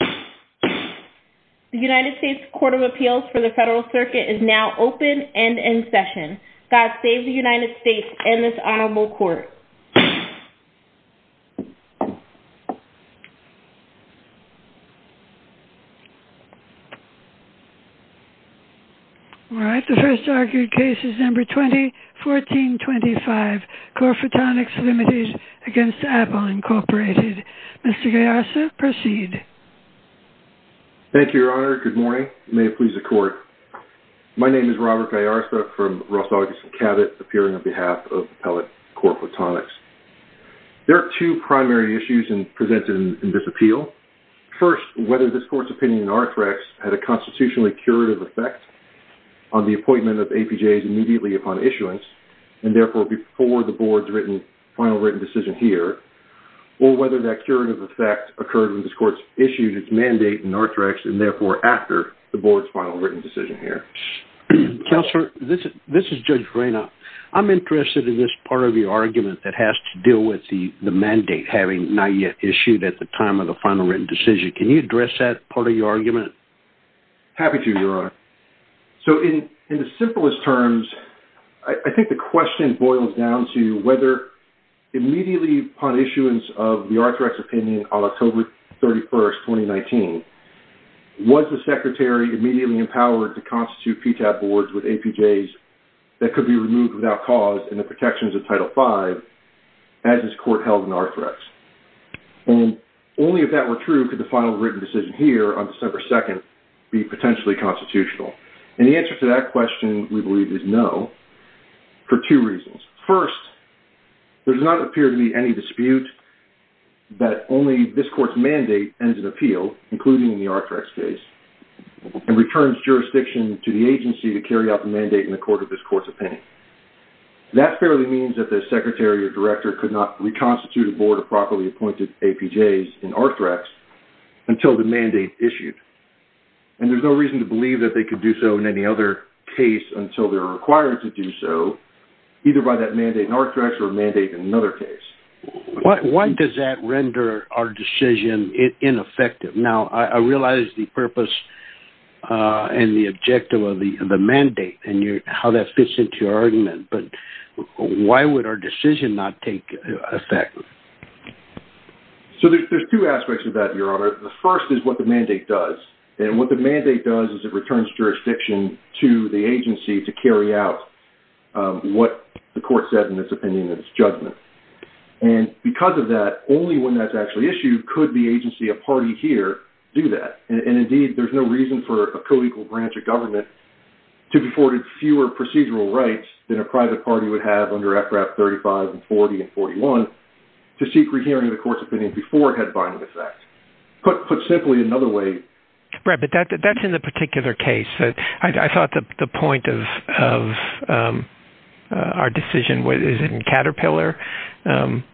The United States Court of Appeals for the Federal Circuit is now open and in session. God save the United States and this honorable court. All right, the first argued case is number 2014-25, Corphotonics, Ltd. v. Apple Inc. Mr. Gayasa, proceed. Thank you, Your Honor. Good morning. May it please the court. My name is Robert Gayasa from Roth Augustin Cabot, appearing on behalf of Appellate Court Photonics. There are two primary issues presented in this appeal. First, whether this court's opinion in ARTHREX had a constitutionally curative effect on the appointment of APJs immediately upon issuance, and therefore before the board's final written decision here, or whether that curative effect occurred when this court issued its mandate in ARTHREX and therefore after the board's final written decision here. Counselor, this is Judge Verena. I'm interested in this part of your argument that has to do with the mandate having not yet issued at the time of the final written decision. Can you address that part of your argument? Happy to, Your Honor. So, in the simplest terms, I think the question boils down to whether immediately upon issuance of the ARTHREX opinion on October 31, 2019, was the Secretary immediately empowered to constitute PTAP boards with APJs that could be removed without cause in the protections of Title V, as this court held in ARTHREX? And only if that were true could the final written decision here on December 2 be potentially constitutional. And the answer to that question, we believe, is no, for two reasons. First, there does not appear to be any dispute that only this court's mandate ends in appeal, including in the ARTHREX case, and returns jurisdiction to the agency to carry out the mandate in the court of this court's opinion. That fairly means that the Secretary or Director could not reconstitute a board of properly appointed APJs in ARTHREX until the mandate issued. And there's no reason to believe that they could do so in any other case until they're required to do so, either by that mandate in ARTHREX or a mandate in another case. Why does that render our decision ineffective? Now, I realize the purpose and the objective of the mandate and how that fits into your argument, but why would our decision not take effect? So there's two aspects of that, Your Honor. The first is what the mandate does. And what the mandate does is it returns jurisdiction to the agency to carry out what the court said in its opinion and its judgment. And because of that, only when that's actually issued could the agency, a party here, do that. And, indeed, there's no reason for a co-equal branch of government to be afforded fewer procedural rights than a private party would have under FRAP 35 and 40 and 41 to seek rehearing the court's opinion before it had binding effect. Put simply another way. Right. But that's in the particular case. I thought the point of our decision is in Caterpillar,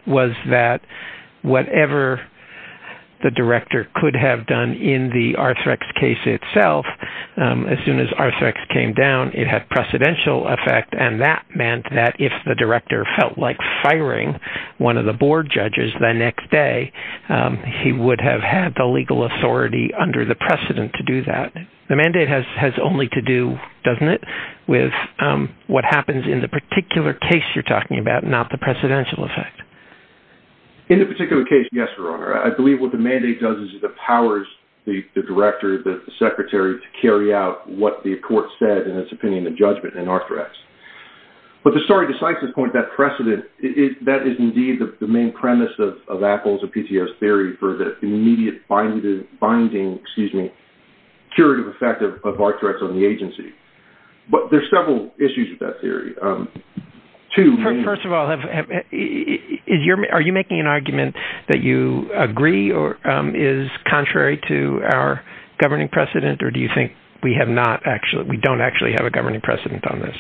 was that whatever the director could have done in the ARTHREX case itself, as soon as ARTHREX came down, it had precedential effect, and that meant that if the director felt like firing one of the board judges the next day, he would have had the legal authority under the precedent to do that. The mandate has only to do, doesn't it, with what happens in the particular case you're talking about, not the precedential effect. In the particular case, yes, Your Honor. I believe what the mandate does is it empowers the director, the secretary, to carry out what the court said in its opinion and judgment in ARTHREX. But the story besides this point, that precedent, that is indeed the main premise of Apple's or PTS theory for the immediate binding curative effect of ARTHREX on the agency. But there's several issues with that theory. First of all, are you making an argument that you agree or is contrary to our governing precedent, or do you think we don't actually have a governing precedent on this?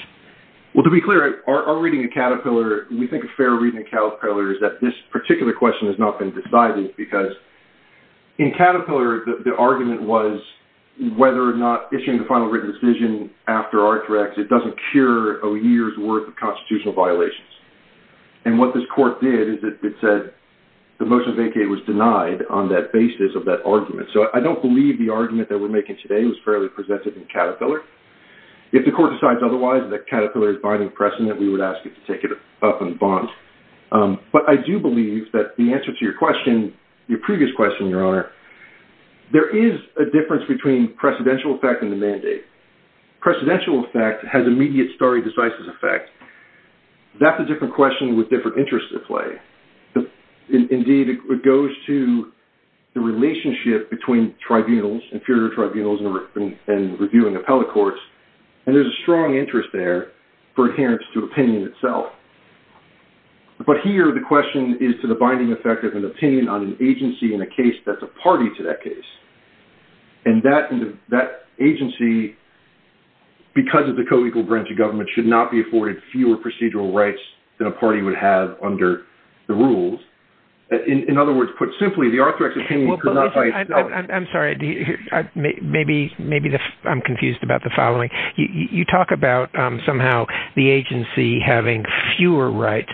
Well, to be clear, our reading of Caterpillar, we think a fair reading of Caterpillar is that this particular question has not been decided because in Caterpillar the argument was whether or not issuing the final written decision after ARTHREX, it doesn't cure a year's worth of constitutional violations. And what this court did is it said the motion of vacay was denied on that basis of that argument. So I don't believe the argument that we're making today was fairly presented in Caterpillar. If the court decides otherwise and that Caterpillar is binding precedent, we would ask it to take it up and bond. But I do believe that the answer to your question, your previous question, Your Honor, there is a difference between precedential effect and the mandate. Precedential effect has immediate stare decisis effect. That's a different question with different interests at play. Indeed, it goes to the relationship between tribunals, inferior tribunals and reviewing appellate courts, and there's a strong interest there for adherence to opinion itself. But here the question is to the binding effect of an opinion on an agency in a case that's a party to that case. And that agency, because of the co-equal branch of government, should not be afforded fewer procedural rights than a party would have under the rules. In other words, put simply, the ARTHREX opinion could not by itself. I'm sorry. Maybe I'm confused about the following. You talk about somehow the agency having fewer rights.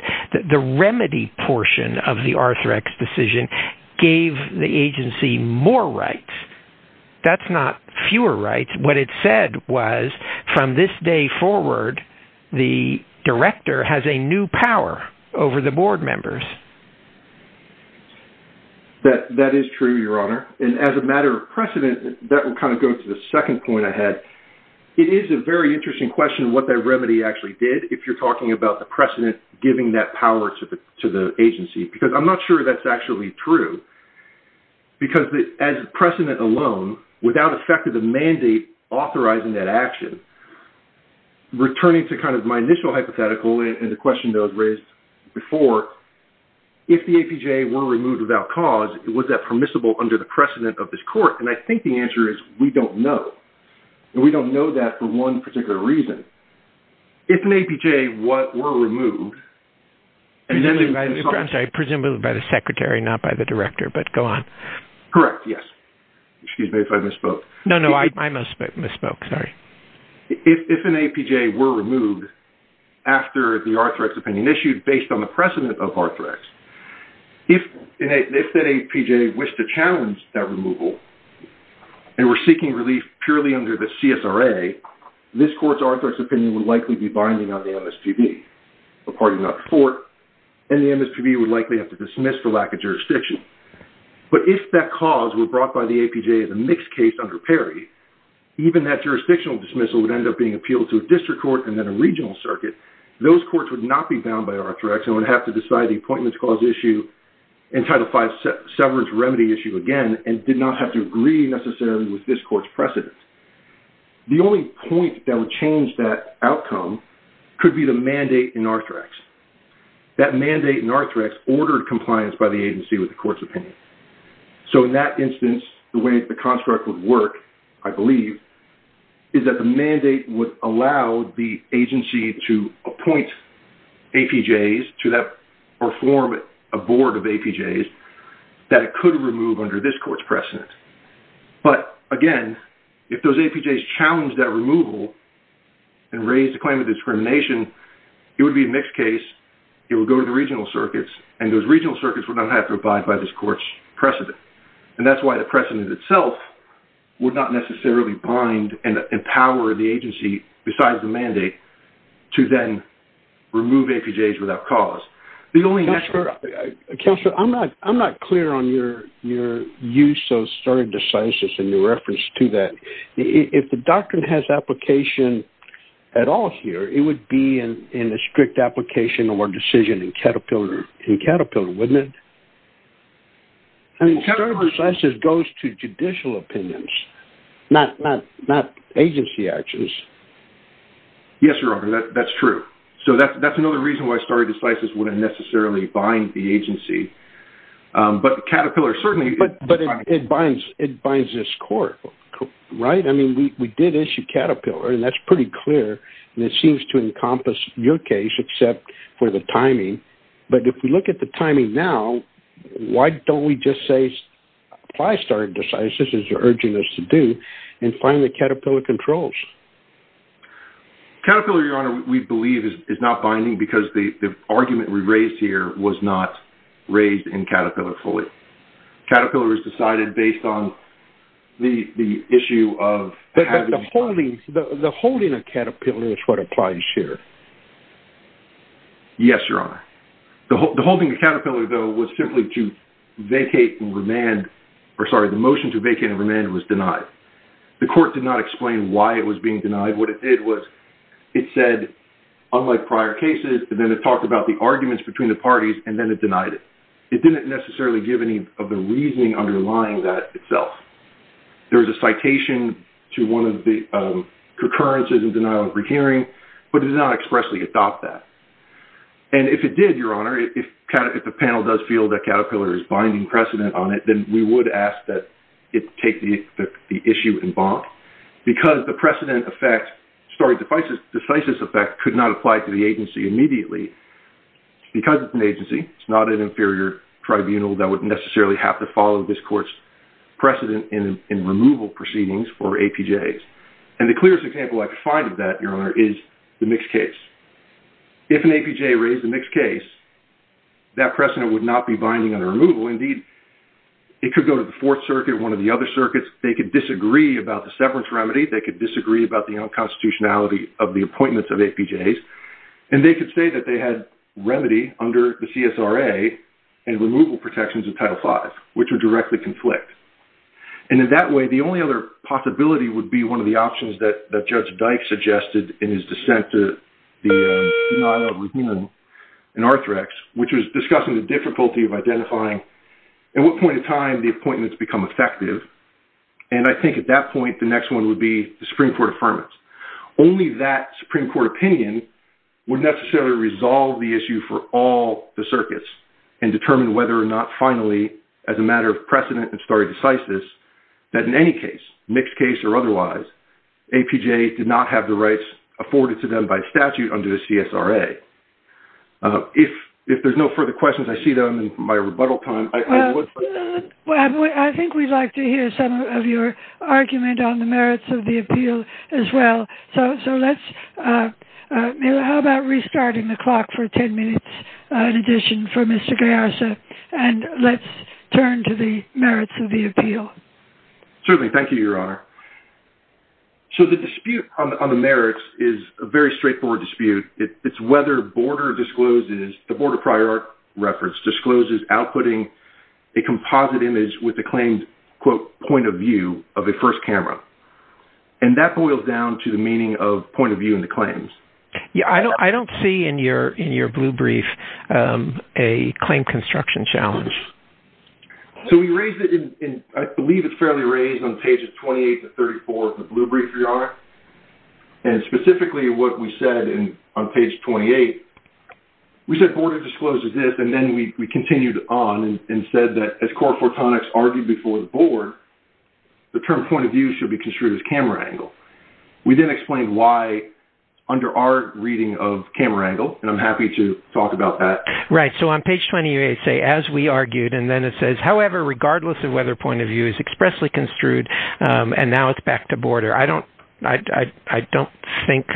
The remedy portion of the ARTHREX decision gave the agency more rights. That's not fewer rights. What it said was from this day forward, the director has a new power over the board members. That is true, Your Honor. And as a matter of precedent, that would kind of go to the second point I had. It is a very interesting question what that remedy actually did, if you're talking about the precedent giving that power to the agency, because I'm not sure that's actually true, because as precedent alone, without effect of the mandate authorizing that action, returning to kind of my initial hypothetical and the question that was raised before, if the APJ were removed without cause, was that permissible under the precedent of this court? And I think the answer is we don't know. And we don't know that for one particular reason. If an APJ were removed, and then they would be sought. I'm sorry. Presumably by the secretary, not by the director, but go on. Correct, yes. Excuse me if I misspoke. No, no. I misspoke. Sorry. If an APJ were removed after the ARTHREX opinion issued, based on the precedent of ARTHREX, if that APJ wished to challenge that removal and were seeking relief purely under the CSRA, this court's ARTHREX opinion would likely be binding on the MSPB, a party not a court, and the MSPB would likely have to dismiss for lack of jurisdiction. But if that cause were brought by the APJ as a mixed case under PERI, even that jurisdictional dismissal would end up being appealed to a district court and then a regional circuit. Those courts would not be bound by ARTHREX and would have to decide the appointments clause issue and Title V severance remedy issue again and did not have to agree necessarily with this court's precedent. The only point that would change that outcome could be the mandate in ARTHREX. That mandate in ARTHREX ordered compliance by the agency with the court's opinion. So in that instance, the way the construct would work, I believe, is that the mandate would allow the agency to appoint APJs or form a board of APJs that it could remove under this court's precedent. But again, if those APJs challenge that removal and raise the claim of discrimination, it would be a mixed case, it would go to the regional circuits, and those regional circuits would not have to abide by this court's precedent. And that's why the precedent itself would not necessarily bind and empower the agency besides the mandate to then remove APJs without cause. Counselor, I'm not clear on your use of sur decisis and your reference to that. If the doctrine has application at all here, it would be in a strict application or decision in Caterpillar, wouldn't it? I mean, sur decisis goes to judicial opinions, not agency actions. Yes, Your Honor, that's true. So that's another reason why sur decisis wouldn't necessarily bind the agency. But Caterpillar certainly... But it binds this court, right? I mean, we did issue Caterpillar, and that's pretty clear, and it seems to encompass your case except for the timing. But if we look at the timing now, why don't we just say apply sur decisis, as you're urging us to do, and find the Caterpillar controls? Caterpillar, Your Honor, we believe is not binding because the argument we raised here was not raised in Caterpillar fully. Caterpillar was decided based on the issue of having... But the holding of Caterpillar is what applies here. Yes, Your Honor. The holding of Caterpillar, though, was simply to vacate and remand... Sorry, the motion to vacate and remand was denied. The court did not explain why it was being denied. What it did was it said, unlike prior cases, and then it talked about the arguments between the parties, and then it denied it. It didn't necessarily give any of the reasoning underlying that itself. There was a citation to one of the concurrences in denial of rehearing, but it did not expressly adopt that. And if it did, Your Honor, if the panel does feel that Caterpillar is binding precedent on it, then we would ask that it take the issue in bond because the precedent effect... Sorry, the decisive effect could not apply to the agency immediately. Because it's an agency, it's not an inferior tribunal that would necessarily have to follow this court's precedent in removal proceedings for APJs. And the clearest example I could find of that, Your Honor, is the mixed case. If an APJ raised a mixed case, that precedent would not be binding on a removal. Indeed, it could go to the Fourth Circuit, one of the other circuits. They could disagree about the severance remedy. They could disagree about the unconstitutionality of the appointments of APJs. And they could say that they had remedy under the CSRA and removal protections of Title V, which would directly conflict. And in that way, the only other possibility would be one of the options that Judge Dyke suggested in his dissent to the denial of rehearing in Arthrex, which was discussing the difficulty of identifying at what point in time the appointments become effective. And I think at that point, the next one would be the Supreme Court affirmance. Only that Supreme Court opinion would necessarily resolve the issue for all the circuits and determine whether or not finally, as a matter of precedent and stare decisis, that in any case, mixed case or otherwise, APJs did not have the rights afforded to them by statute under the CSRA. If there's no further questions, I see that I'm in my rebuttal time. Well, I think we'd like to hear some of your argument on the merits of the appeal as well. So let's... How about restarting the clock for 10 minutes in addition for Mr. Gayarza? And let's turn to the merits of the appeal. Certainly. Thank you, Your Honour. So the dispute on the merits is a very straightforward dispute. It's whether the board of prior reference discloses outputting a composite image with the claimed, quote, point of view of a first camera. And that boils down to the meaning of point of view in the claims. Yeah, I don't see in your blue brief a claim construction challenge. So we raised it in... I believe it's fairly raised on pages 28 to 34 of the blue brief, Your Honour. And specifically what we said on page 28, we said border discloses this, and then we continued on and said that as core photonics argued before the board, the term point of view should be construed as camera angle. We then explained why under our reading of camera angle, and I'm happy to talk about that. Right. So on page 28, it says, as we argued, and then it says, however, regardless of whether point of view is expressly construed, and now it's back to border. I don't think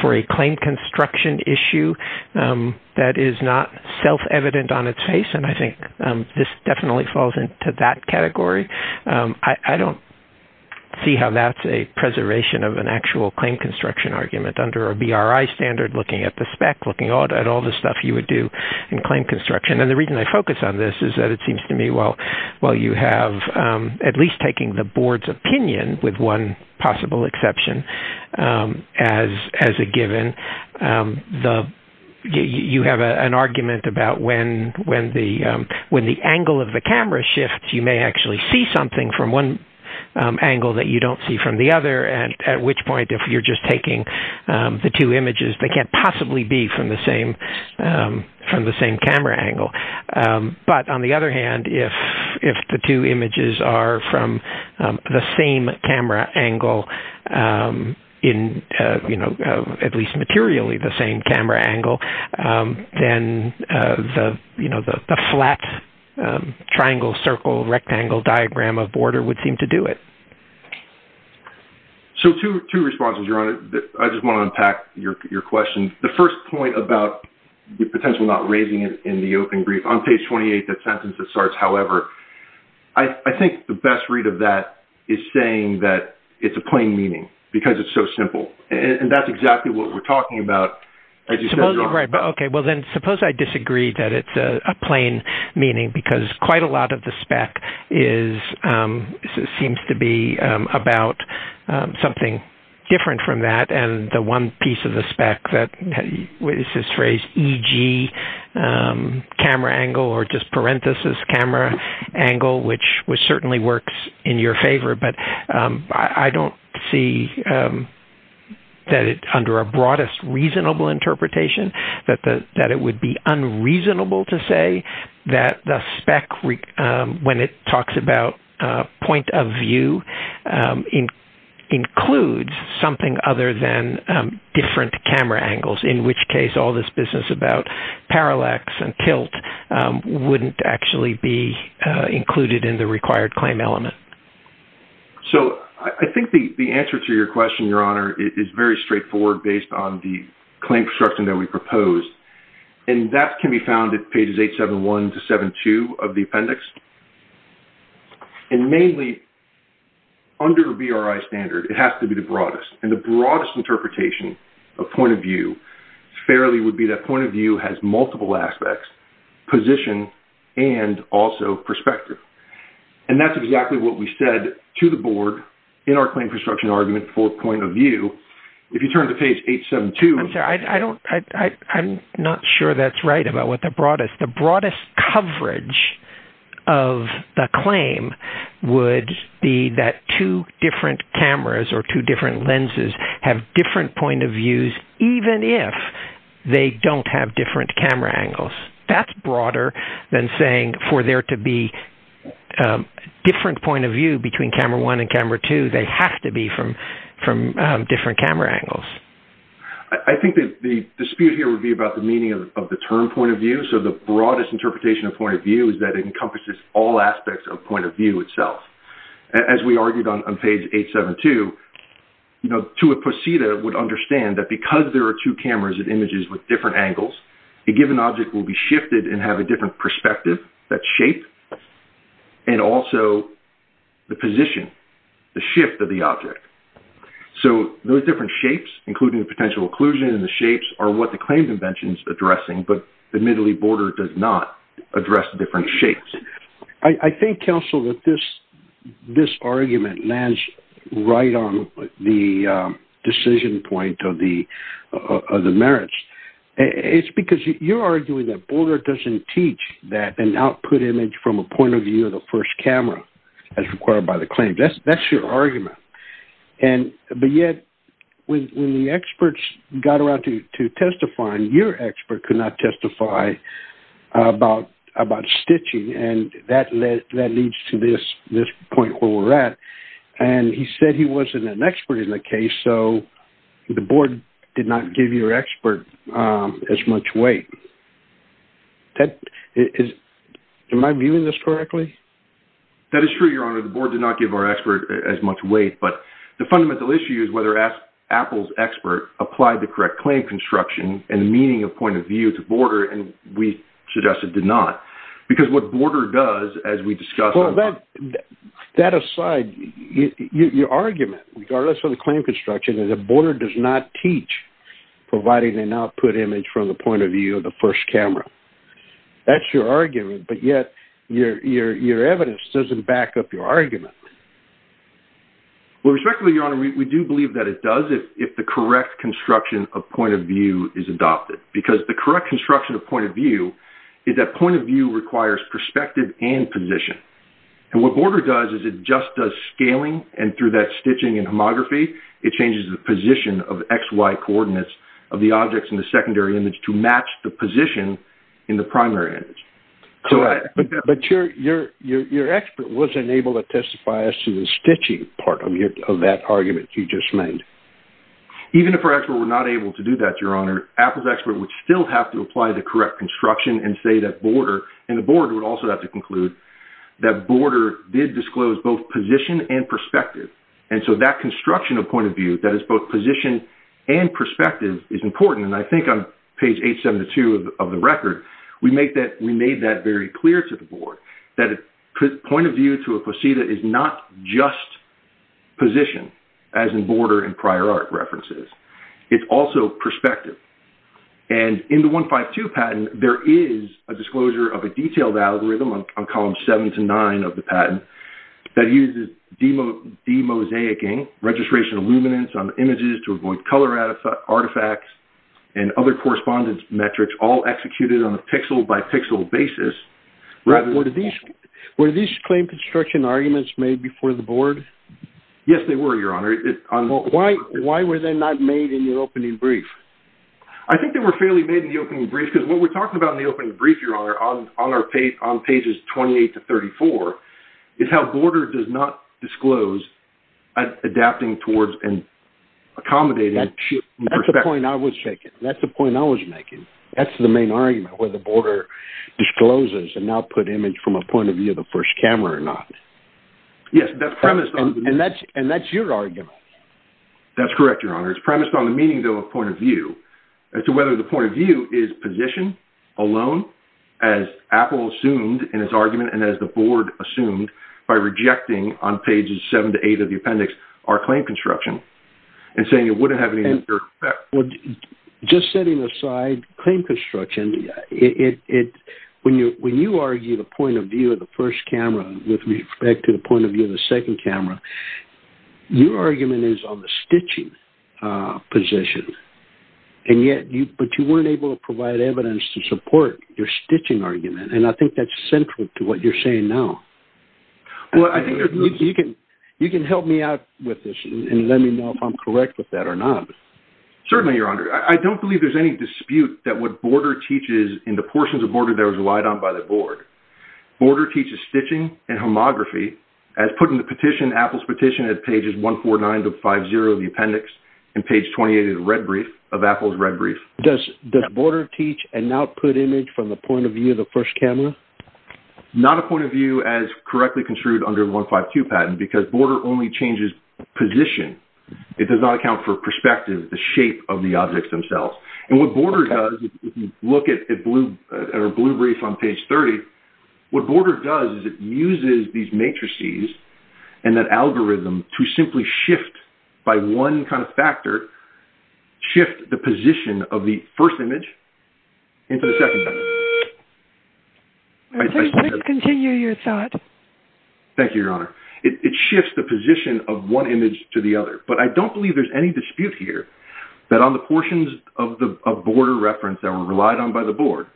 for a claim construction issue that is not self-evident on its face, and I think this definitely falls into that category. I don't see how that's a preservation of an actual claim construction argument under a BRI standard looking at the spec, looking at all the stuff you would do in claim construction. And the reason I focus on this is that it seems to me, while you have at least taking the board's opinion with one possible exception as a given, you have an argument about when the angle of the camera shifts, you may actually see something from one angle that you don't see from the other, at which point if you're just taking the two images, they can't possibly be from the same camera angle. But on the other hand, if the two images are from the same camera angle, at least materially the same camera angle, then the flat triangle, circle, rectangle, diagram of border would seem to do it. So two responses, Your Honor. I just want to unpack your question. The first point about the potential not raising it in the open brief. On page 28, that sentence that starts, however, I think the best read of that is saying that it's a plain meaning because it's so simple. And that's exactly what we're talking about, as you said, Your Honor. Okay. Well, then suppose I disagree that it's a plain meaning because quite a lot of the spec seems to be about something different from that. And the one piece of the spec that is this phrase, e.g., camera angle or just parenthesis camera angle, which certainly works in your favor, but I don't see that under a broadest reasonable interpretation that it would be unreasonable to say that the spec, when it talks about point of view, includes something other than different camera angles, in which case all this business about parallax and tilt wouldn't actually be included in the required claim element. So I think the answer to your question, Your Honor, is very straightforward based on the claim construction that we proposed. And that can be found at pages 871 to 872 of the appendix. And mainly, under a BRI standard, it has to be the broadest. And the broadest interpretation of point of view fairly would be that point of view has multiple aspects, position, and also perspective. And that's exactly what we said to the Board in our claim construction argument for point of view. If you turn to page 872... I'm sorry. I'm not sure that's right about what the broadest. The broadest coverage of the claim would be that two different cameras or two different lenses have different point of views even if they don't have different camera angles. That's broader than saying for there to be a different point of view between camera 1 and camera 2, they have to be from different camera angles. I think the dispute here would be about the meaning of the term point of view. So the broadest interpretation of point of view is that it encompasses all aspects of point of view itself. As we argued on page 872, to a posse that would understand that because there are two cameras and images with different angles, a given object will be shifted and have a different perspective, that shape, and also the position, the shift of the object. So those different shapes, including the potential occlusion and the shapes are what the claim convention is addressing, but admittedly, Boulder does not address different shapes. I think, counsel, that this argument lands right on the decision point of the merits. It's because you're arguing that Boulder doesn't teach that an output image from a point of view of the first camera as required by the claim. That's your argument. But yet, when the experts got around to testifying, your expert could not testify about stitching, and that leads to this point where we're at. And he said he wasn't an expert in the case, so the board did not give your expert as much weight. Am I viewing this correctly? That is true, Your Honor. The board did not give our expert as much weight, but the fundamental issue is whether Apple's expert applied the correct claim construction and the meaning of point of view to Boulder, and we suggest it did not. Because what Boulder does, as we discussed... That aside, your argument, regardless of the claim construction, is that Boulder does not teach providing an output image from the point of view of the first camera. That's your argument, but yet your evidence doesn't back up your argument. Well, respectively, Your Honor, we do believe that it does if the correct construction of point of view is adopted. Because the correct construction of point of view is that point of view requires perspective and position. And what Boulder does is it just does scaling, and through that stitching and homography, it changes the position of XY coordinates of the objects in the secondary image to match the position in the primary image. But your expert wasn't able to testify as to the stitching part of that argument you just made. Even if our expert were not able to do that, Your Honor, Apple's expert would still have to apply the correct construction and say that Boulder... And the board would also have to conclude that Boulder did disclose both position and perspective. And so that construction of point of view, that is both position and perspective, is important. And I think on page 872 of the record, we made that very clear to the board, that a point of view to a placida is not just position, as in Boulder and prior art references. It's also perspective. And in the 152 patent, there is a disclosure of a detailed algorithm on columns 7 to 9 of the patent that uses demosaicing, registration of luminance on images to avoid color artifacts, and other correspondence metrics all executed on a pixel-by-pixel basis. Were these claim construction arguments made before the board? Yes, they were, Your Honor. Why were they not made in your opening brief? I think they were fairly made in the opening brief because what we're talking about in the opening brief, Your Honor, on pages 28 to 34, is how Boulder does not disclose adapting towards and accommodating perspective. That's the point I was making. That's the main argument, whether Boulder discloses an output image from a point of view of the first camera or not. Yes, that's premised on... And that's your argument. That's correct, Your Honor. It's premised on the meaning of a point of view as to whether the point of view is position alone, as Apple assumed in its argument and as the board assumed by rejecting on pages 7 to 8 of the appendix our claim construction and saying it wouldn't have any... Just setting aside claim construction, when you argue the point of view of the first camera with respect to the point of view of the second camera, your argument is on the stitching position, but you weren't able to provide evidence to support your stitching argument, and I think that's central to what you're saying now. You can help me out with this and let me know if I'm correct with that or not. Certainly, Your Honor. I don't believe there's any dispute that what Boulder teaches in the portions of Boulder that was relied on by the board. Boulder teaches stitching and homography as put in the petition, Apple's petition, at pages 149 to 50 of the appendix and page 28 of Apple's red brief. Does Boulder teach an output image from the point of view of the first camera? Not a point of view as correctly construed under the 152 patent because Boulder only changes position. It does not account for perspective, the shape of the objects themselves. And what Boulder does, if you look at a blue brief on page 30, what Boulder does is it uses these matrices and that algorithm to simply shift by one kind of factor, shift the position of the first image into the second. Please continue your thought. Thank you, Your Honor. It shifts the position of one image to the other. But I don't believe there's any dispute here that on the portions of Boulder reference that were relied on by the board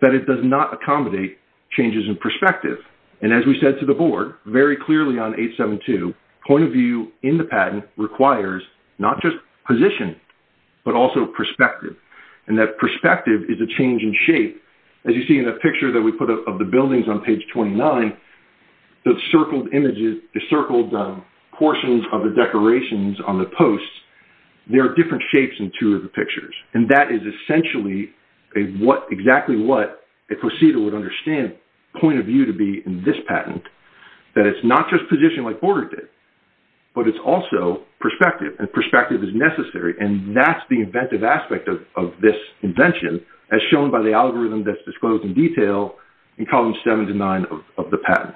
that it does not accommodate changes in perspective. And as we said to the board very clearly on 872, point of view in the patent requires not just position but also perspective. And that perspective is a change in shape. As you see in the picture that we put up of the buildings on page 29, the circled images, the circled portions of the decorations on the posts, there are different shapes in two of the pictures. And that is essentially exactly what a procedure would understand point of view to be in this patent, that it's not just position like Boulder did, but it's also perspective, and perspective is necessary. And that's the inventive aspect of this invention as shown by the algorithm that's disclosed in detail in columns seven to nine of the patent.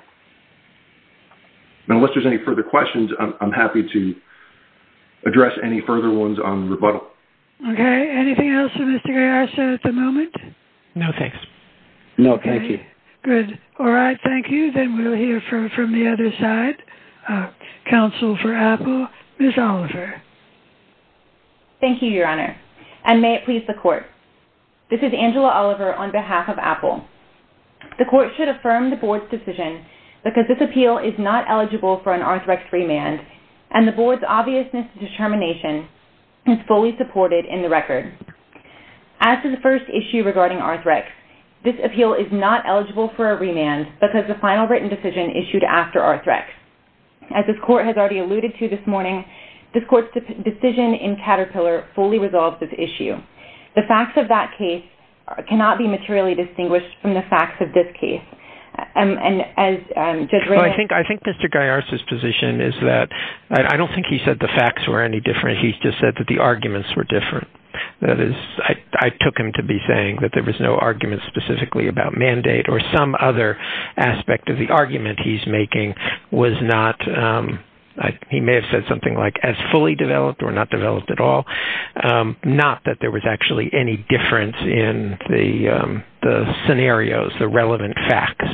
And unless there's any further questions, I'm happy to address any further ones on rebuttal. Okay. Anything else for Mr. Garcia at the moment? No, thanks. No, thank you. Good. All right. Thank you. Then we'll hear from the other side, counsel for Apple, Ms. Oliver. Thank you, Your Honor. And may it please the Court. This is Angela Oliver on behalf of Apple. The Court should affirm the Board's decision because this appeal is not eligible for an Arthrex remand and the Board's obviousness and determination is fully supported in the record. As to the first issue regarding Arthrex, this appeal is not eligible for a remand because the final written decision issued after Arthrex. As this Court has already alluded to this morning, this Court's decision in Caterpillar fully resolves this issue. The facts of that case cannot be materially distinguished from the facts of this case. I think Mr. Garcia's position is that I don't think he said the facts were any different, he just said that the arguments were different. That is, I took him to be saying that there was no argument specifically about mandate or some other aspect of the argument he's making was not, he may have said something like as fully developed or not developed at all, not that there was actually any difference in the scenarios, the relevant facts.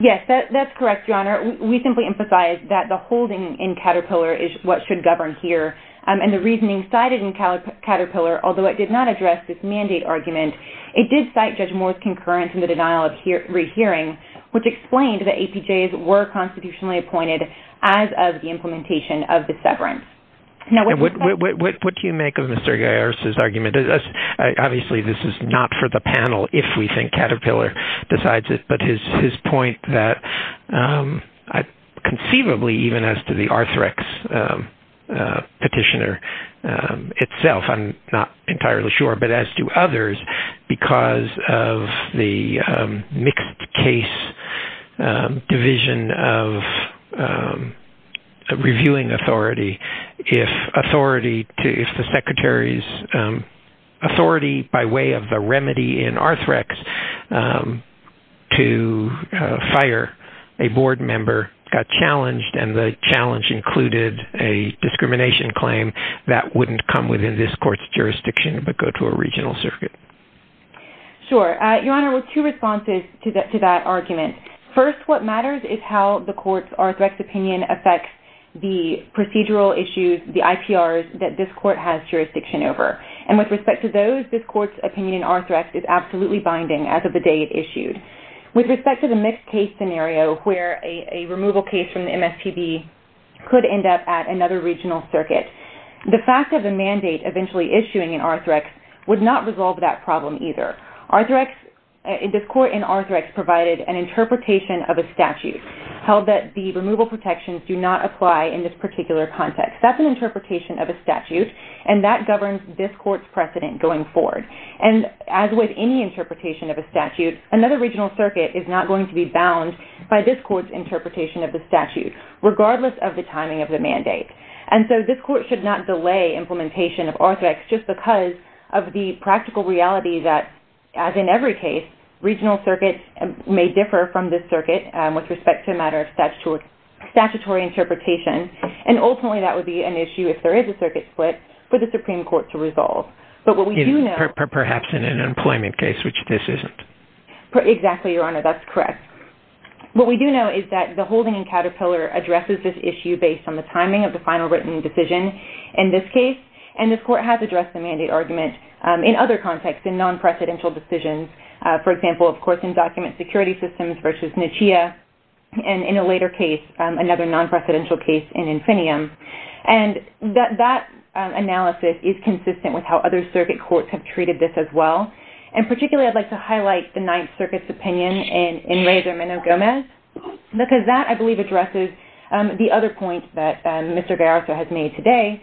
Yes, that's correct, Your Honor. We simply emphasize that the holding in Caterpillar is what should govern here. And the reasoning cited in Caterpillar, although it did not address this mandate argument, it did cite Judge Moore's concurrence in the denial of rehearing, which explained that APJs were constitutionally appointed as of the implementation of the severance. What do you make of Mr. Garcia's argument? Obviously this is not for the panel if we think Caterpillar decides it, but his point that conceivably even as to the Arthrex petitioner itself, I'm not entirely sure, but as to others, because of the mixed case division of reviewing authority, if the secretary's authority by way of the remedy in Arthrex to fire a board member got challenged and the challenge included a discrimination claim, but go to a regional circuit. Sure. Your Honor, two responses to that argument. First, what matters is how the court's Arthrex opinion affects the procedural issues, the IPRs, that this court has jurisdiction over. And with respect to those, this court's opinion in Arthrex is absolutely binding as of the day it issued. With respect to the mixed case scenario where a removal case from the MSPB could end up at another regional circuit, the fact of the mandate eventually issuing in Arthrex would not resolve that problem either. This court in Arthrex provided an interpretation of a statute held that the removal protections do not apply in this particular context. That's an interpretation of a statute and that governs this court's precedent going forward. And as with any interpretation of a statute, another regional circuit is not going to be bound by this court's interpretation of the statute, regardless of the timing of the mandate. And so this court should not delay implementation of Arthrex just because of the practical reality that, as in every case, regional circuits may differ from this circuit with respect to a matter of statutory interpretation. And ultimately that would be an issue, if there is a circuit split, for the Supreme Court to resolve. But what we do know... Perhaps in an employment case, which this isn't. Exactly, Your Honor, that's correct. What we do know is that the holding in Caterpillar addresses this issue based on the timing of the final written decision, in this case. And this court has addressed the mandate argument in other contexts, in non-presidential decisions. For example, of course, in document security systems versus NICHEA, and in a later case, another non-presidential case in INFINIUM. And that analysis is consistent with how other circuit courts have treated this as well. And particularly I'd like to highlight the Ninth Circuit's opinion in Reyes-Hermano-Gomez because that, I believe, addresses the other point that Mr. Garasso has made today,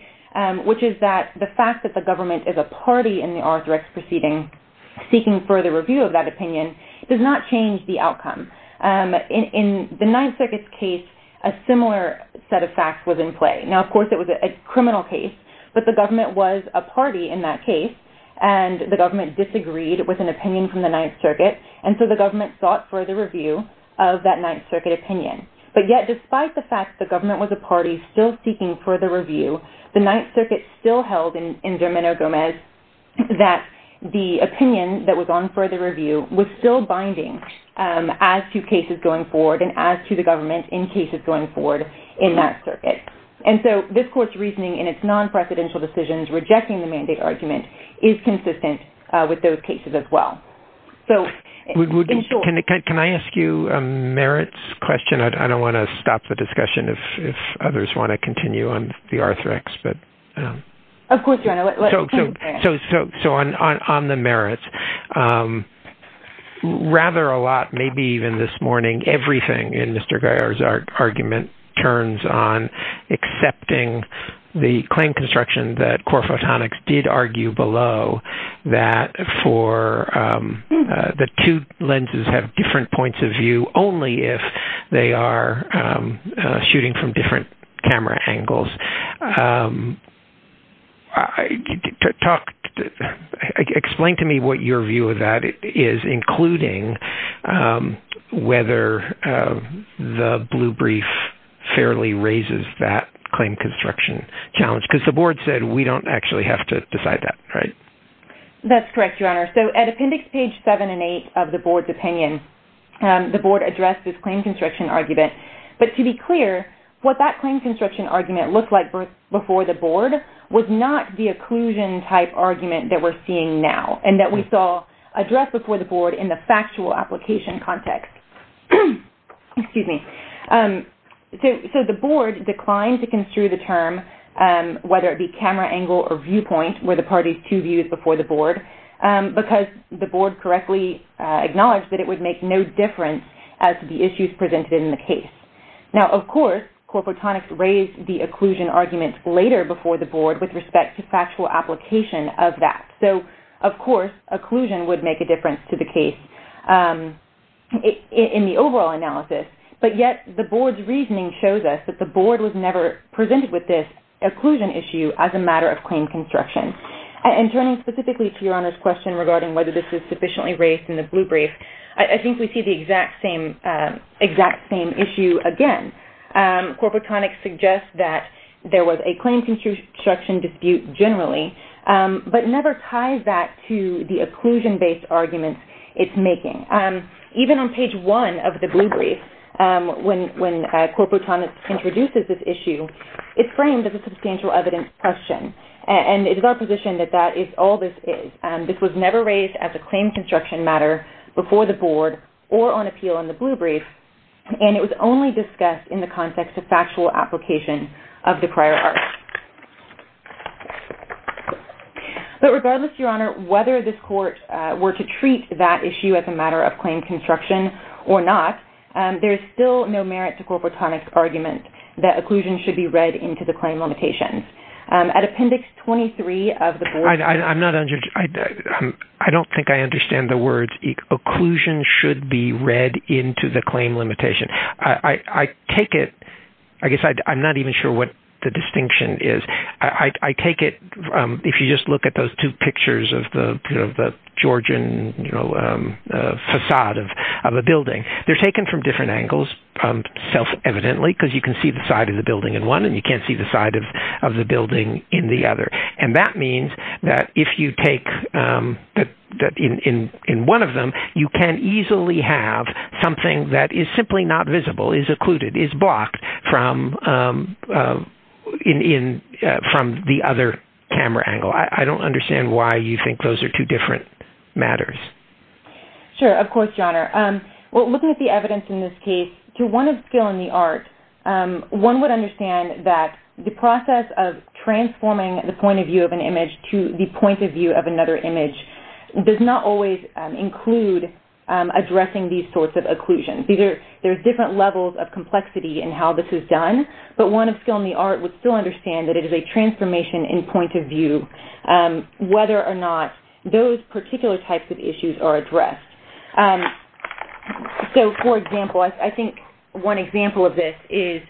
which is that the fact that the government is a party in the R-3-X proceeding, seeking further review of that opinion, does not change the outcome. In the Ninth Circuit's case, a similar set of facts was in play. Now, of course, it was a criminal case, but the government was a party in that case, and the government disagreed with an opinion from the Ninth Circuit, and so the government sought further review of that Ninth Circuit opinion. But yet, despite the fact the government was a party still seeking further review, the Ninth Circuit still held in Germano-Gomez that the opinion that was on further review was still binding as to cases going forward and as to the government in cases going forward in that circuit. And so this court's reasoning in its non-presidential decisions rejecting the mandate argument is consistent with those cases as well. Can I ask you a merits question? I don't want to stop the discussion if others want to continue on the R-3-X, but... Of course you want to. So on the merits, rather a lot, maybe even this morning, everything in Mr. Geyer's argument turns on accepting the claim construction that Core Photonics did argue below that the two lenses have different points of view only if they are shooting from different camera angles. Explain to me what your view of that is, including whether the blue brief fairly raises that claim construction challenge, because the board said we don't actually have to decide that, right? That's correct, Your Honor. So at Appendix Page 7 and 8 of the board's opinion, the board addressed this claim construction argument, but to be clear, what that claim construction argument looked like before the board was not the occlusion-type argument that we're seeing now and that we saw addressed before the board in the factual application context. Excuse me. So the board declined to construe the term whether it be camera angle or viewpoint were the parties' two views before the board because the board correctly acknowledged that it would make no difference as to the issues presented in the case. Now, of course, Core Photonics raised the occlusion argument later before the board with respect to factual application of that. So, of course, occlusion would make a difference to the case in the overall analysis, but yet the board's reasoning shows us that the board was never presented with this occlusion issue as a matter of claim construction. And turning specifically to Your Honor's question regarding whether this is sufficiently raised in the blue brief, I think we see the exact same issue again. Core Photonics suggests that there was a claim construction dispute generally, but never ties that to the occlusion-based arguments it's making. Even on Page 1 of the blue brief, when Core Photonics introduces this issue, it's framed as a substantial evidence question, and it is our position that that is all this is. This was never raised as a claim construction matter before the board or on appeal in the blue brief, and it was only discussed in the context of factual application of the prior art. But regardless, Your Honor, whether this court were to treat that issue there is still no merit to Core Photonics' argument that occlusion should be read into the claim limitations. At Appendix 23 of the board... I'm not... I don't think I understand the words occlusion should be read into the claim limitation. I take it... I guess I'm not even sure what the distinction is. I take it... If you just look at those two pictures of the Georgian facade of a building, they're taken from different angles, self-evidently, because you can see the side of the building in one and you can't see the side of the building in the other. And that means that if you take... In one of them, you can easily have something that is simply not visible, is occluded, is blocked from the other camera angle. I don't understand why you think those are two different matters. Sure, of course, Your Honor. Well, looking at the evidence in this case, to one of skill in the art, one would understand that the process of transforming the point of view of an image to the point of view of another image does not always include addressing these sorts of occlusions. There are different levels of complexity in how this is done, but one of skill in the art would still understand that it is a transformation in point of view whether or not those particular types of issues are addressed. So, for example, I think one example of this is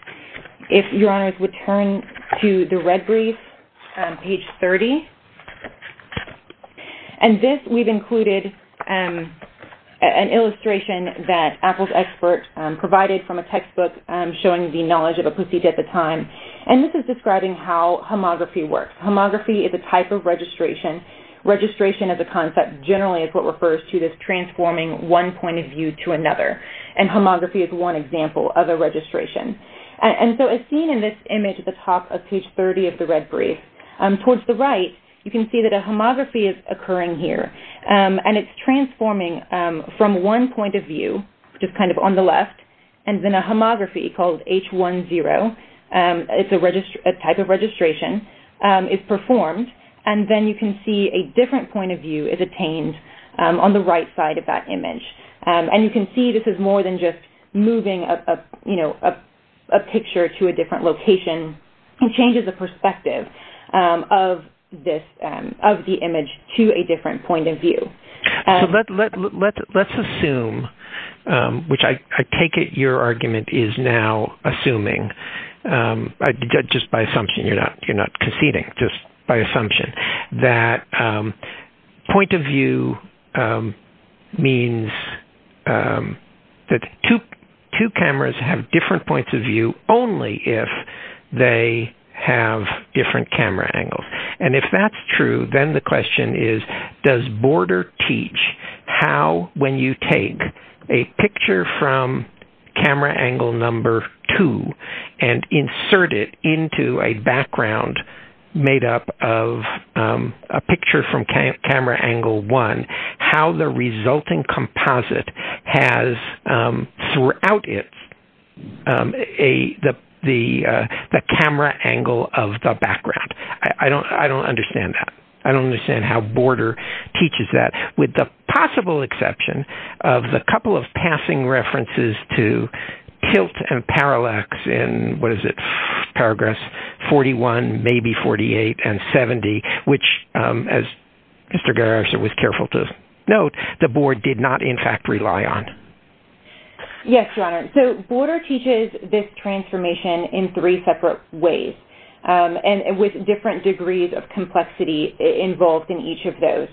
if Your Honors would turn to the red brief, page 30. And this we've included an illustration that Apple's expert provided from a textbook showing the knowledge of a procedure at the time. And this is describing how homography works. Homography is a type of registration. Registration as a concept generally is what refers to this transforming one point of view to another. And homography is one example of a registration. And so as seen in this image at the top of page 30 of the red brief, towards the right, you can see that a homography is occurring here. And it's transforming from one point of view, which is kind of on the left, and then a homography called H10. It's a type of registration. It's performed, and then you can see a different point of view is obtained on the right side of that image. And you can see this is more than just moving a picture to a different location. It changes the perspective of the image to a different point of view. So let's assume, which I take it your argument is now assuming, just by assumption, you're not conceding, just by assumption, that point of view means that two cameras have different points of view only if they have different camera angles. And if that's true, then the question is, does Border teach how when you take a picture from camera angle number two and insert it into a background made up of a picture from camera angle one, how the resulting composite has throughout it the camera angle of the background. I don't understand that. I don't understand how Border teaches that, with the possible exception of the couple of passing references to tilt and parallax in, what is it, Paragraphs 41, maybe 48, and 70, which, as Mr. Garrison was careful to note, the Board did not, in fact, rely on. Yes, Your Honor, so Border teaches this transformation in three separate ways and with different degrees of complexity involved in each of those.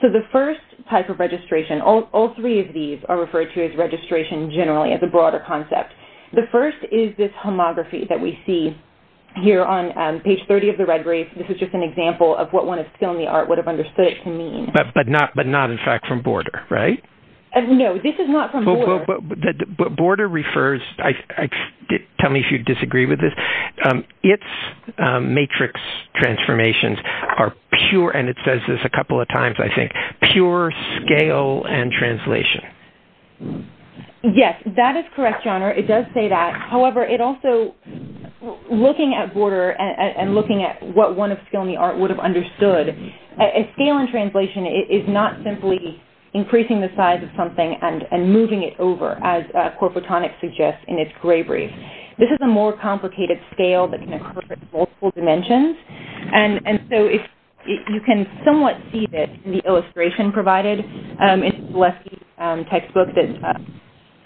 So the first type of registration, all three of these are referred to as registration generally as a broader concept. The first is this homography that we see here on page 30 of the red brief. This is just an example of what one of skill in the art would have understood it to mean. But not, in fact, from Border, right? No, this is not from Border. But Border refers, tell me if you disagree with this, its matrix transformations are pure, and it says this a couple of times, I think, pure scale and translation. Yes, that is correct, Your Honor. It does say that. However, it also, looking at Border and looking at what one of skill in the art would have understood, a scale and translation is not simply increasing the size of something and moving it over, as corporatonic suggests in its gray brief. This is a more complicated scale that can occur in multiple dimensions. And so you can somewhat see this in the illustration provided in the textbook that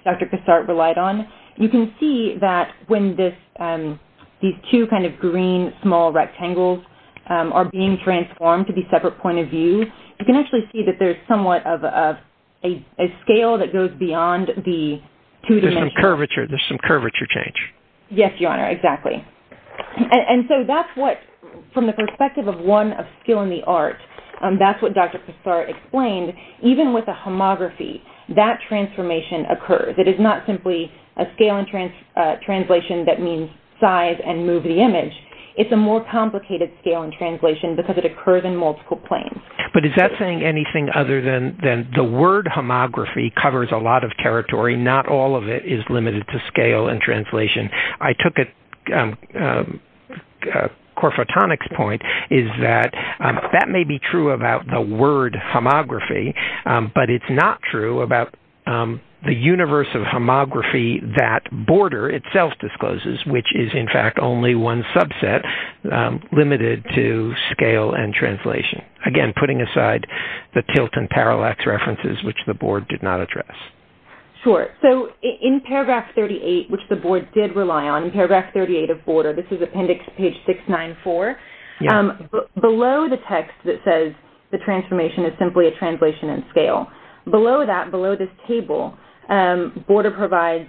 Dr. Cassart relied on. You can see that when these two kind of green small rectangles are being transformed to be separate point of view, you can actually see that there's somewhat of a scale that goes beyond the two dimensions. There's some curvature change. Yes, Your Honor, exactly. And so that's what, from the perspective of one of skill in the art, that's what Dr. Cassart explained. Even with a homography, that transformation occurs. It is not simply a scale and translation that means size and move the image. It's a more complicated scale and translation because it occurs in multiple planes. But is that saying anything other than the word homography covers a lot of territory. Not all of it is limited to scale and translation. I took a corporatonic point, is that that may be true about the word homography, but it's not true about the universe of homography that border itself discloses, which is in fact only one subset limited to scale and translation. Again, putting aside the tilt and parallax references which the board did not address. Sure, so in paragraph 38, which the board did rely on, in paragraph 38 of border, this is appendix page 694. Below the text that says the transformation is simply a translation and scale. Below that, below this table, border provides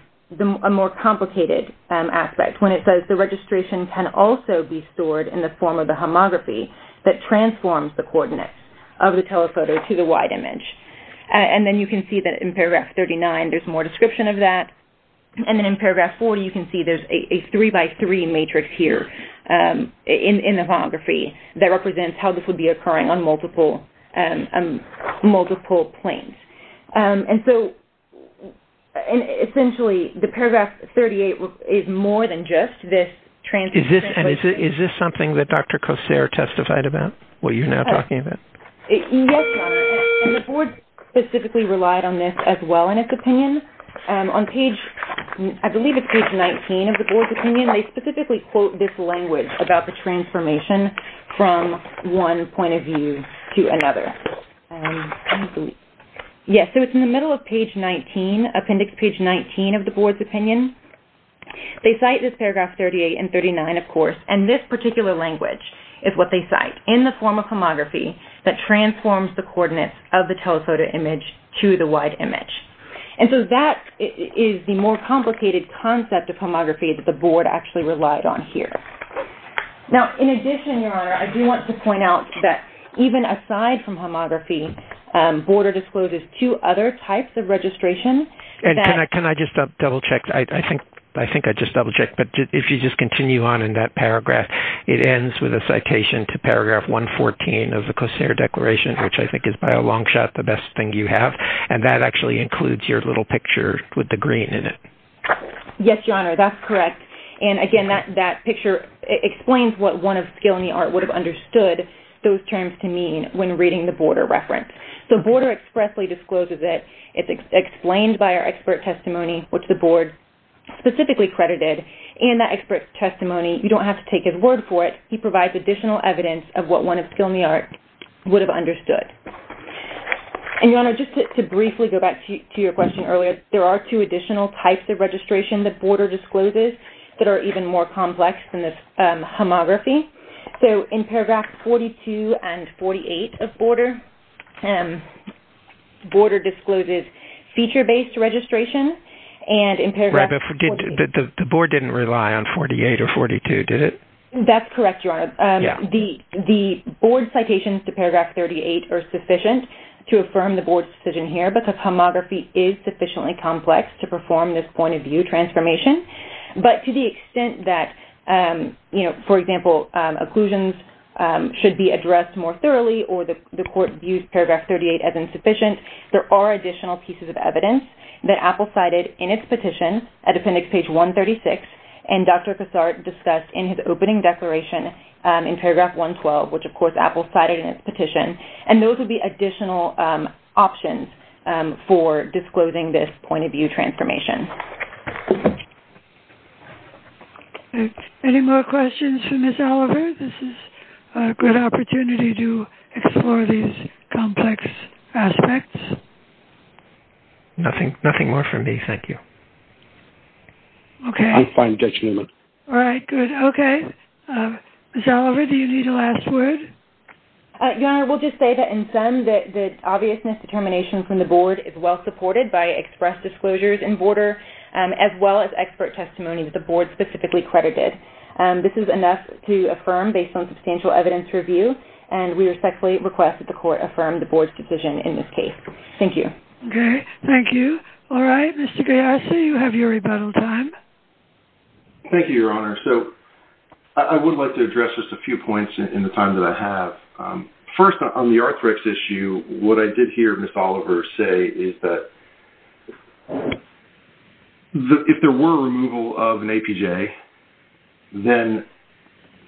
a more complicated aspect when it says the registration can also be stored in the form of the homography that transforms the coordinates of the telephoto to the wide image. And then you can see that in paragraph 39 there's more description of that. And then in paragraph 40 you can see there's a three by three matrix here. In the homography, that represents how this would be occurring on multiple planes. And so, essentially, the paragraph 38 is more than just this transformation. Is this something that Dr. Cossare testified about? What you're now talking about? Yes, John. And the board specifically relied on this On page, I believe it's page 19 of the board's opinion, they specifically quote this language about the transformation from one point of view to another. Yes, so it's in the middle of page 19, appendix page 19 of the board's opinion. They cite this paragraph 38 and 39, of course, and this particular language is what they cite. In the form of homography that transforms the coordinates of the telephoto image to the wide image. And so that is the more complicated concept of homography that the board actually relied on here. Now, in addition, Your Honor, I do want to point out that even aside from homography, boarder discloses two other types of registration. Can I just double check? I think I just double checked, but if you just continue on in that paragraph, it ends with a citation to paragraph 114 of the Cossare Declaration, which I think is by a long shot the best thing you have. And that actually includes your little picture with the green in it. Yes, Your Honor, that's correct. And again, that picture explains what one of Skilny Art would have understood those terms to mean when reading the boarder reference. So boarder expressly discloses it. It's explained by our expert testimony, which the board specifically credited. And that expert testimony, you don't have to take his word for it. He provides additional evidence of what one of Skilny Art would have understood. And Your Honor, just to briefly go back to your question earlier, there are two additional types of registration that boarder discloses that are even more complex than the homography. So in paragraph 42 and 48 of boarder, boarder discloses feature-based registration. The board didn't rely on 48 or 42, did it? That's correct, Your Honor. The board citations to paragraph 38 are sufficient to affirm the board's decision here because homography is sufficiently complex to perform this point-of-view transformation. But to the extent that, for example, occlusions should be addressed more thoroughly or the court views paragraph 38 as insufficient, there are additional pieces of evidence that Apple cited in its petition at appendix page 136 and Dr. Cassart discussed in his opening declaration in paragraph 112, which, of course, Apple cited in its petition. And those would be additional options for disclosing this point-of-view transformation. Any more questions for Ms. Oliver? This is a good opportunity to explore these complex aspects. Nothing more from me, thank you. Okay. I'm fine, Judge Newman. All right, good. Okay. Ms. Oliver, do you need a last word? Your Honor, we'll just say that in sum that the obviousness determination from the board is well-supported by express disclosures in border as well as expert testimony that the board specifically credited. This is enough to affirm based on substantial evidence review and we respectfully request that the court affirm the board's decision in this case. Thank you. Okay, thank you. All right, Mr. Gallarza, you have your rebuttal time. Thank you, Your Honor. So I would like to address just a few points in the time that I have. First, on the Arthrex issue, what I did hear Ms. Oliver say is that if there were removal of an APJ, then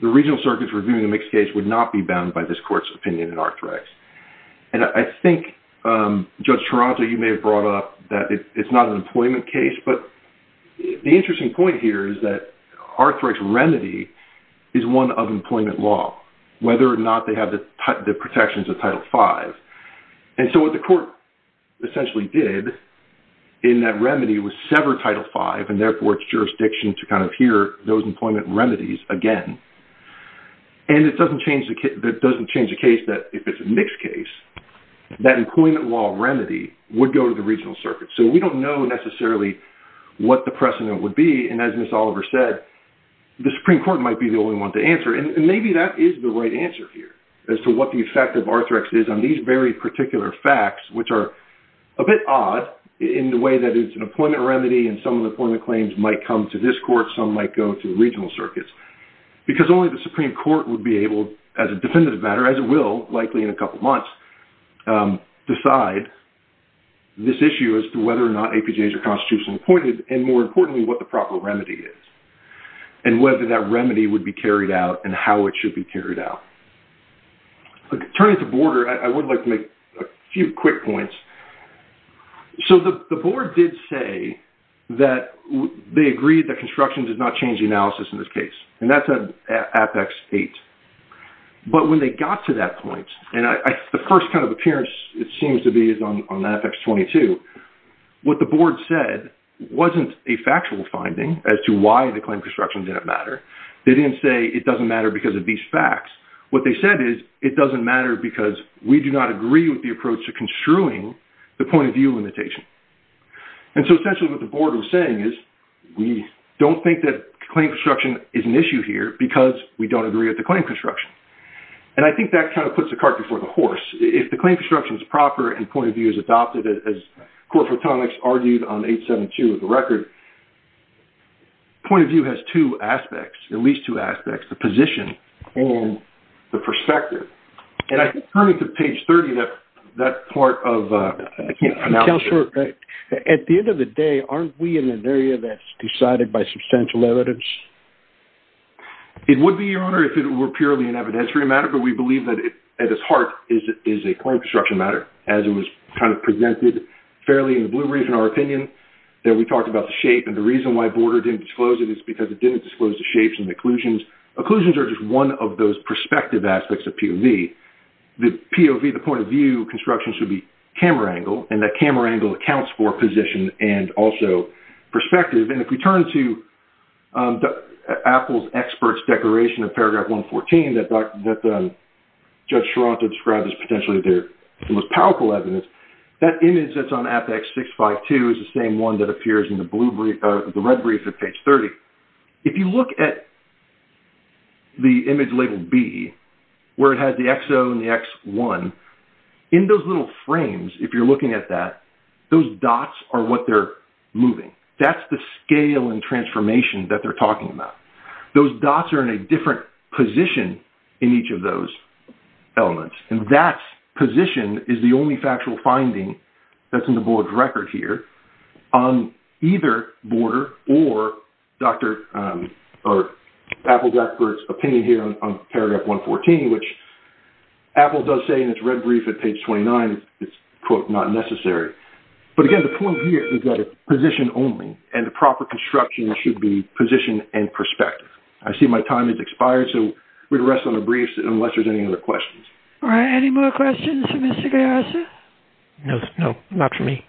the regional circuits reviewing a mixed case would not be bound by this court's opinion in Arthrex. And I think, Judge Toronto, you may have brought up that it's not an employment case, but the interesting point here is that whether or not they have the protections of Title V. And so what the court essentially did in that remedy was sever Title V and therefore its jurisdiction to kind of hear those employment remedies again. And it doesn't change the case that if it's a mixed case, that employment law remedy would go to the regional circuit. So we don't know necessarily what the precedent would be. And as Ms. Oliver said, the Supreme Court might be the only one to answer. And maybe that is the right answer here as to what the effect of Arthrex is on these very particular facts, which are a bit odd in the way that it's an employment remedy and some of the employment claims might come to this court, some might go to regional circuits, because only the Supreme Court would be able, as a definitive matter, as it will likely in a couple months, decide this issue as to whether or not APJs are constitutionally appointed, and more importantly, what the proper remedy is, and whether that remedy would be carried out and how it should be carried out. Turning to Border, I would like to make a few quick points. So the Board did say that they agreed that construction does not change the analysis in this case, and that's in Apex 8. But when they got to that point, and the first kind of appearance it seems to be is on Apex 22, what the Board said wasn't a factual finding as to why the claim construction didn't matter. They didn't say it doesn't matter because of these facts. What they said is it doesn't matter because we do not agree with the approach to construing the point of view limitation. And so essentially what the Board was saying is we don't think that claim construction is an issue here because we don't agree with the claim construction. And I think that kind of puts the cart before the horse. If the claim construction is proper and point of view is adopted, as Court Photonics argued on 872 of the record, point of view has two aspects, at least two aspects, the position and the perspective. And I think turning to page 30, that part of analysis... Counselor, at the end of the day, aren't we in an area that's decided by substantial evidence? It would be, Your Honor, if it were purely an evidentiary matter, but we believe that at its heart is a claim construction matter, as it was kind of presented fairly in the Blue Brief, in our opinion, that we talked about the shape. And the reason why Border didn't disclose it is because it didn't disclose the shapes and occlusions. Occlusions are just one of those perspective aspects of POV. The POV, the point of view construction, should be camera angle, and that camera angle accounts for position and also perspective. And if we turn to Apple's expert's declaration of paragraph 114 that Judge Sharanto described as potentially the most powerful evidence, that image that's on Apex 652 is the same one that appears in the Red Brief at page 30. If you look at the image labeled B, where it has the XO and the X1, in those little frames, if you're looking at that, those dots are what they're moving. That's the scale and transformation that they're talking about. Those dots are in a different position in each of those elements, and that position is the only factual finding that's in the Board's record here on either Border or Apple's expert's opinion here on paragraph 114, which Apple does say in its Red Brief at page 29, it's, quote, not necessary. But again, the point here is that it's position only, and the proper construction should be position and perspective. I see my time has expired, so we're going to rest on the briefs Are there any more questions for Mr. Gallarza? No, not for me.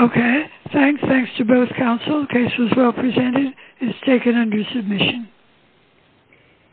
Okay. Thanks to both counsel. The case was well presented. It's taken under submission.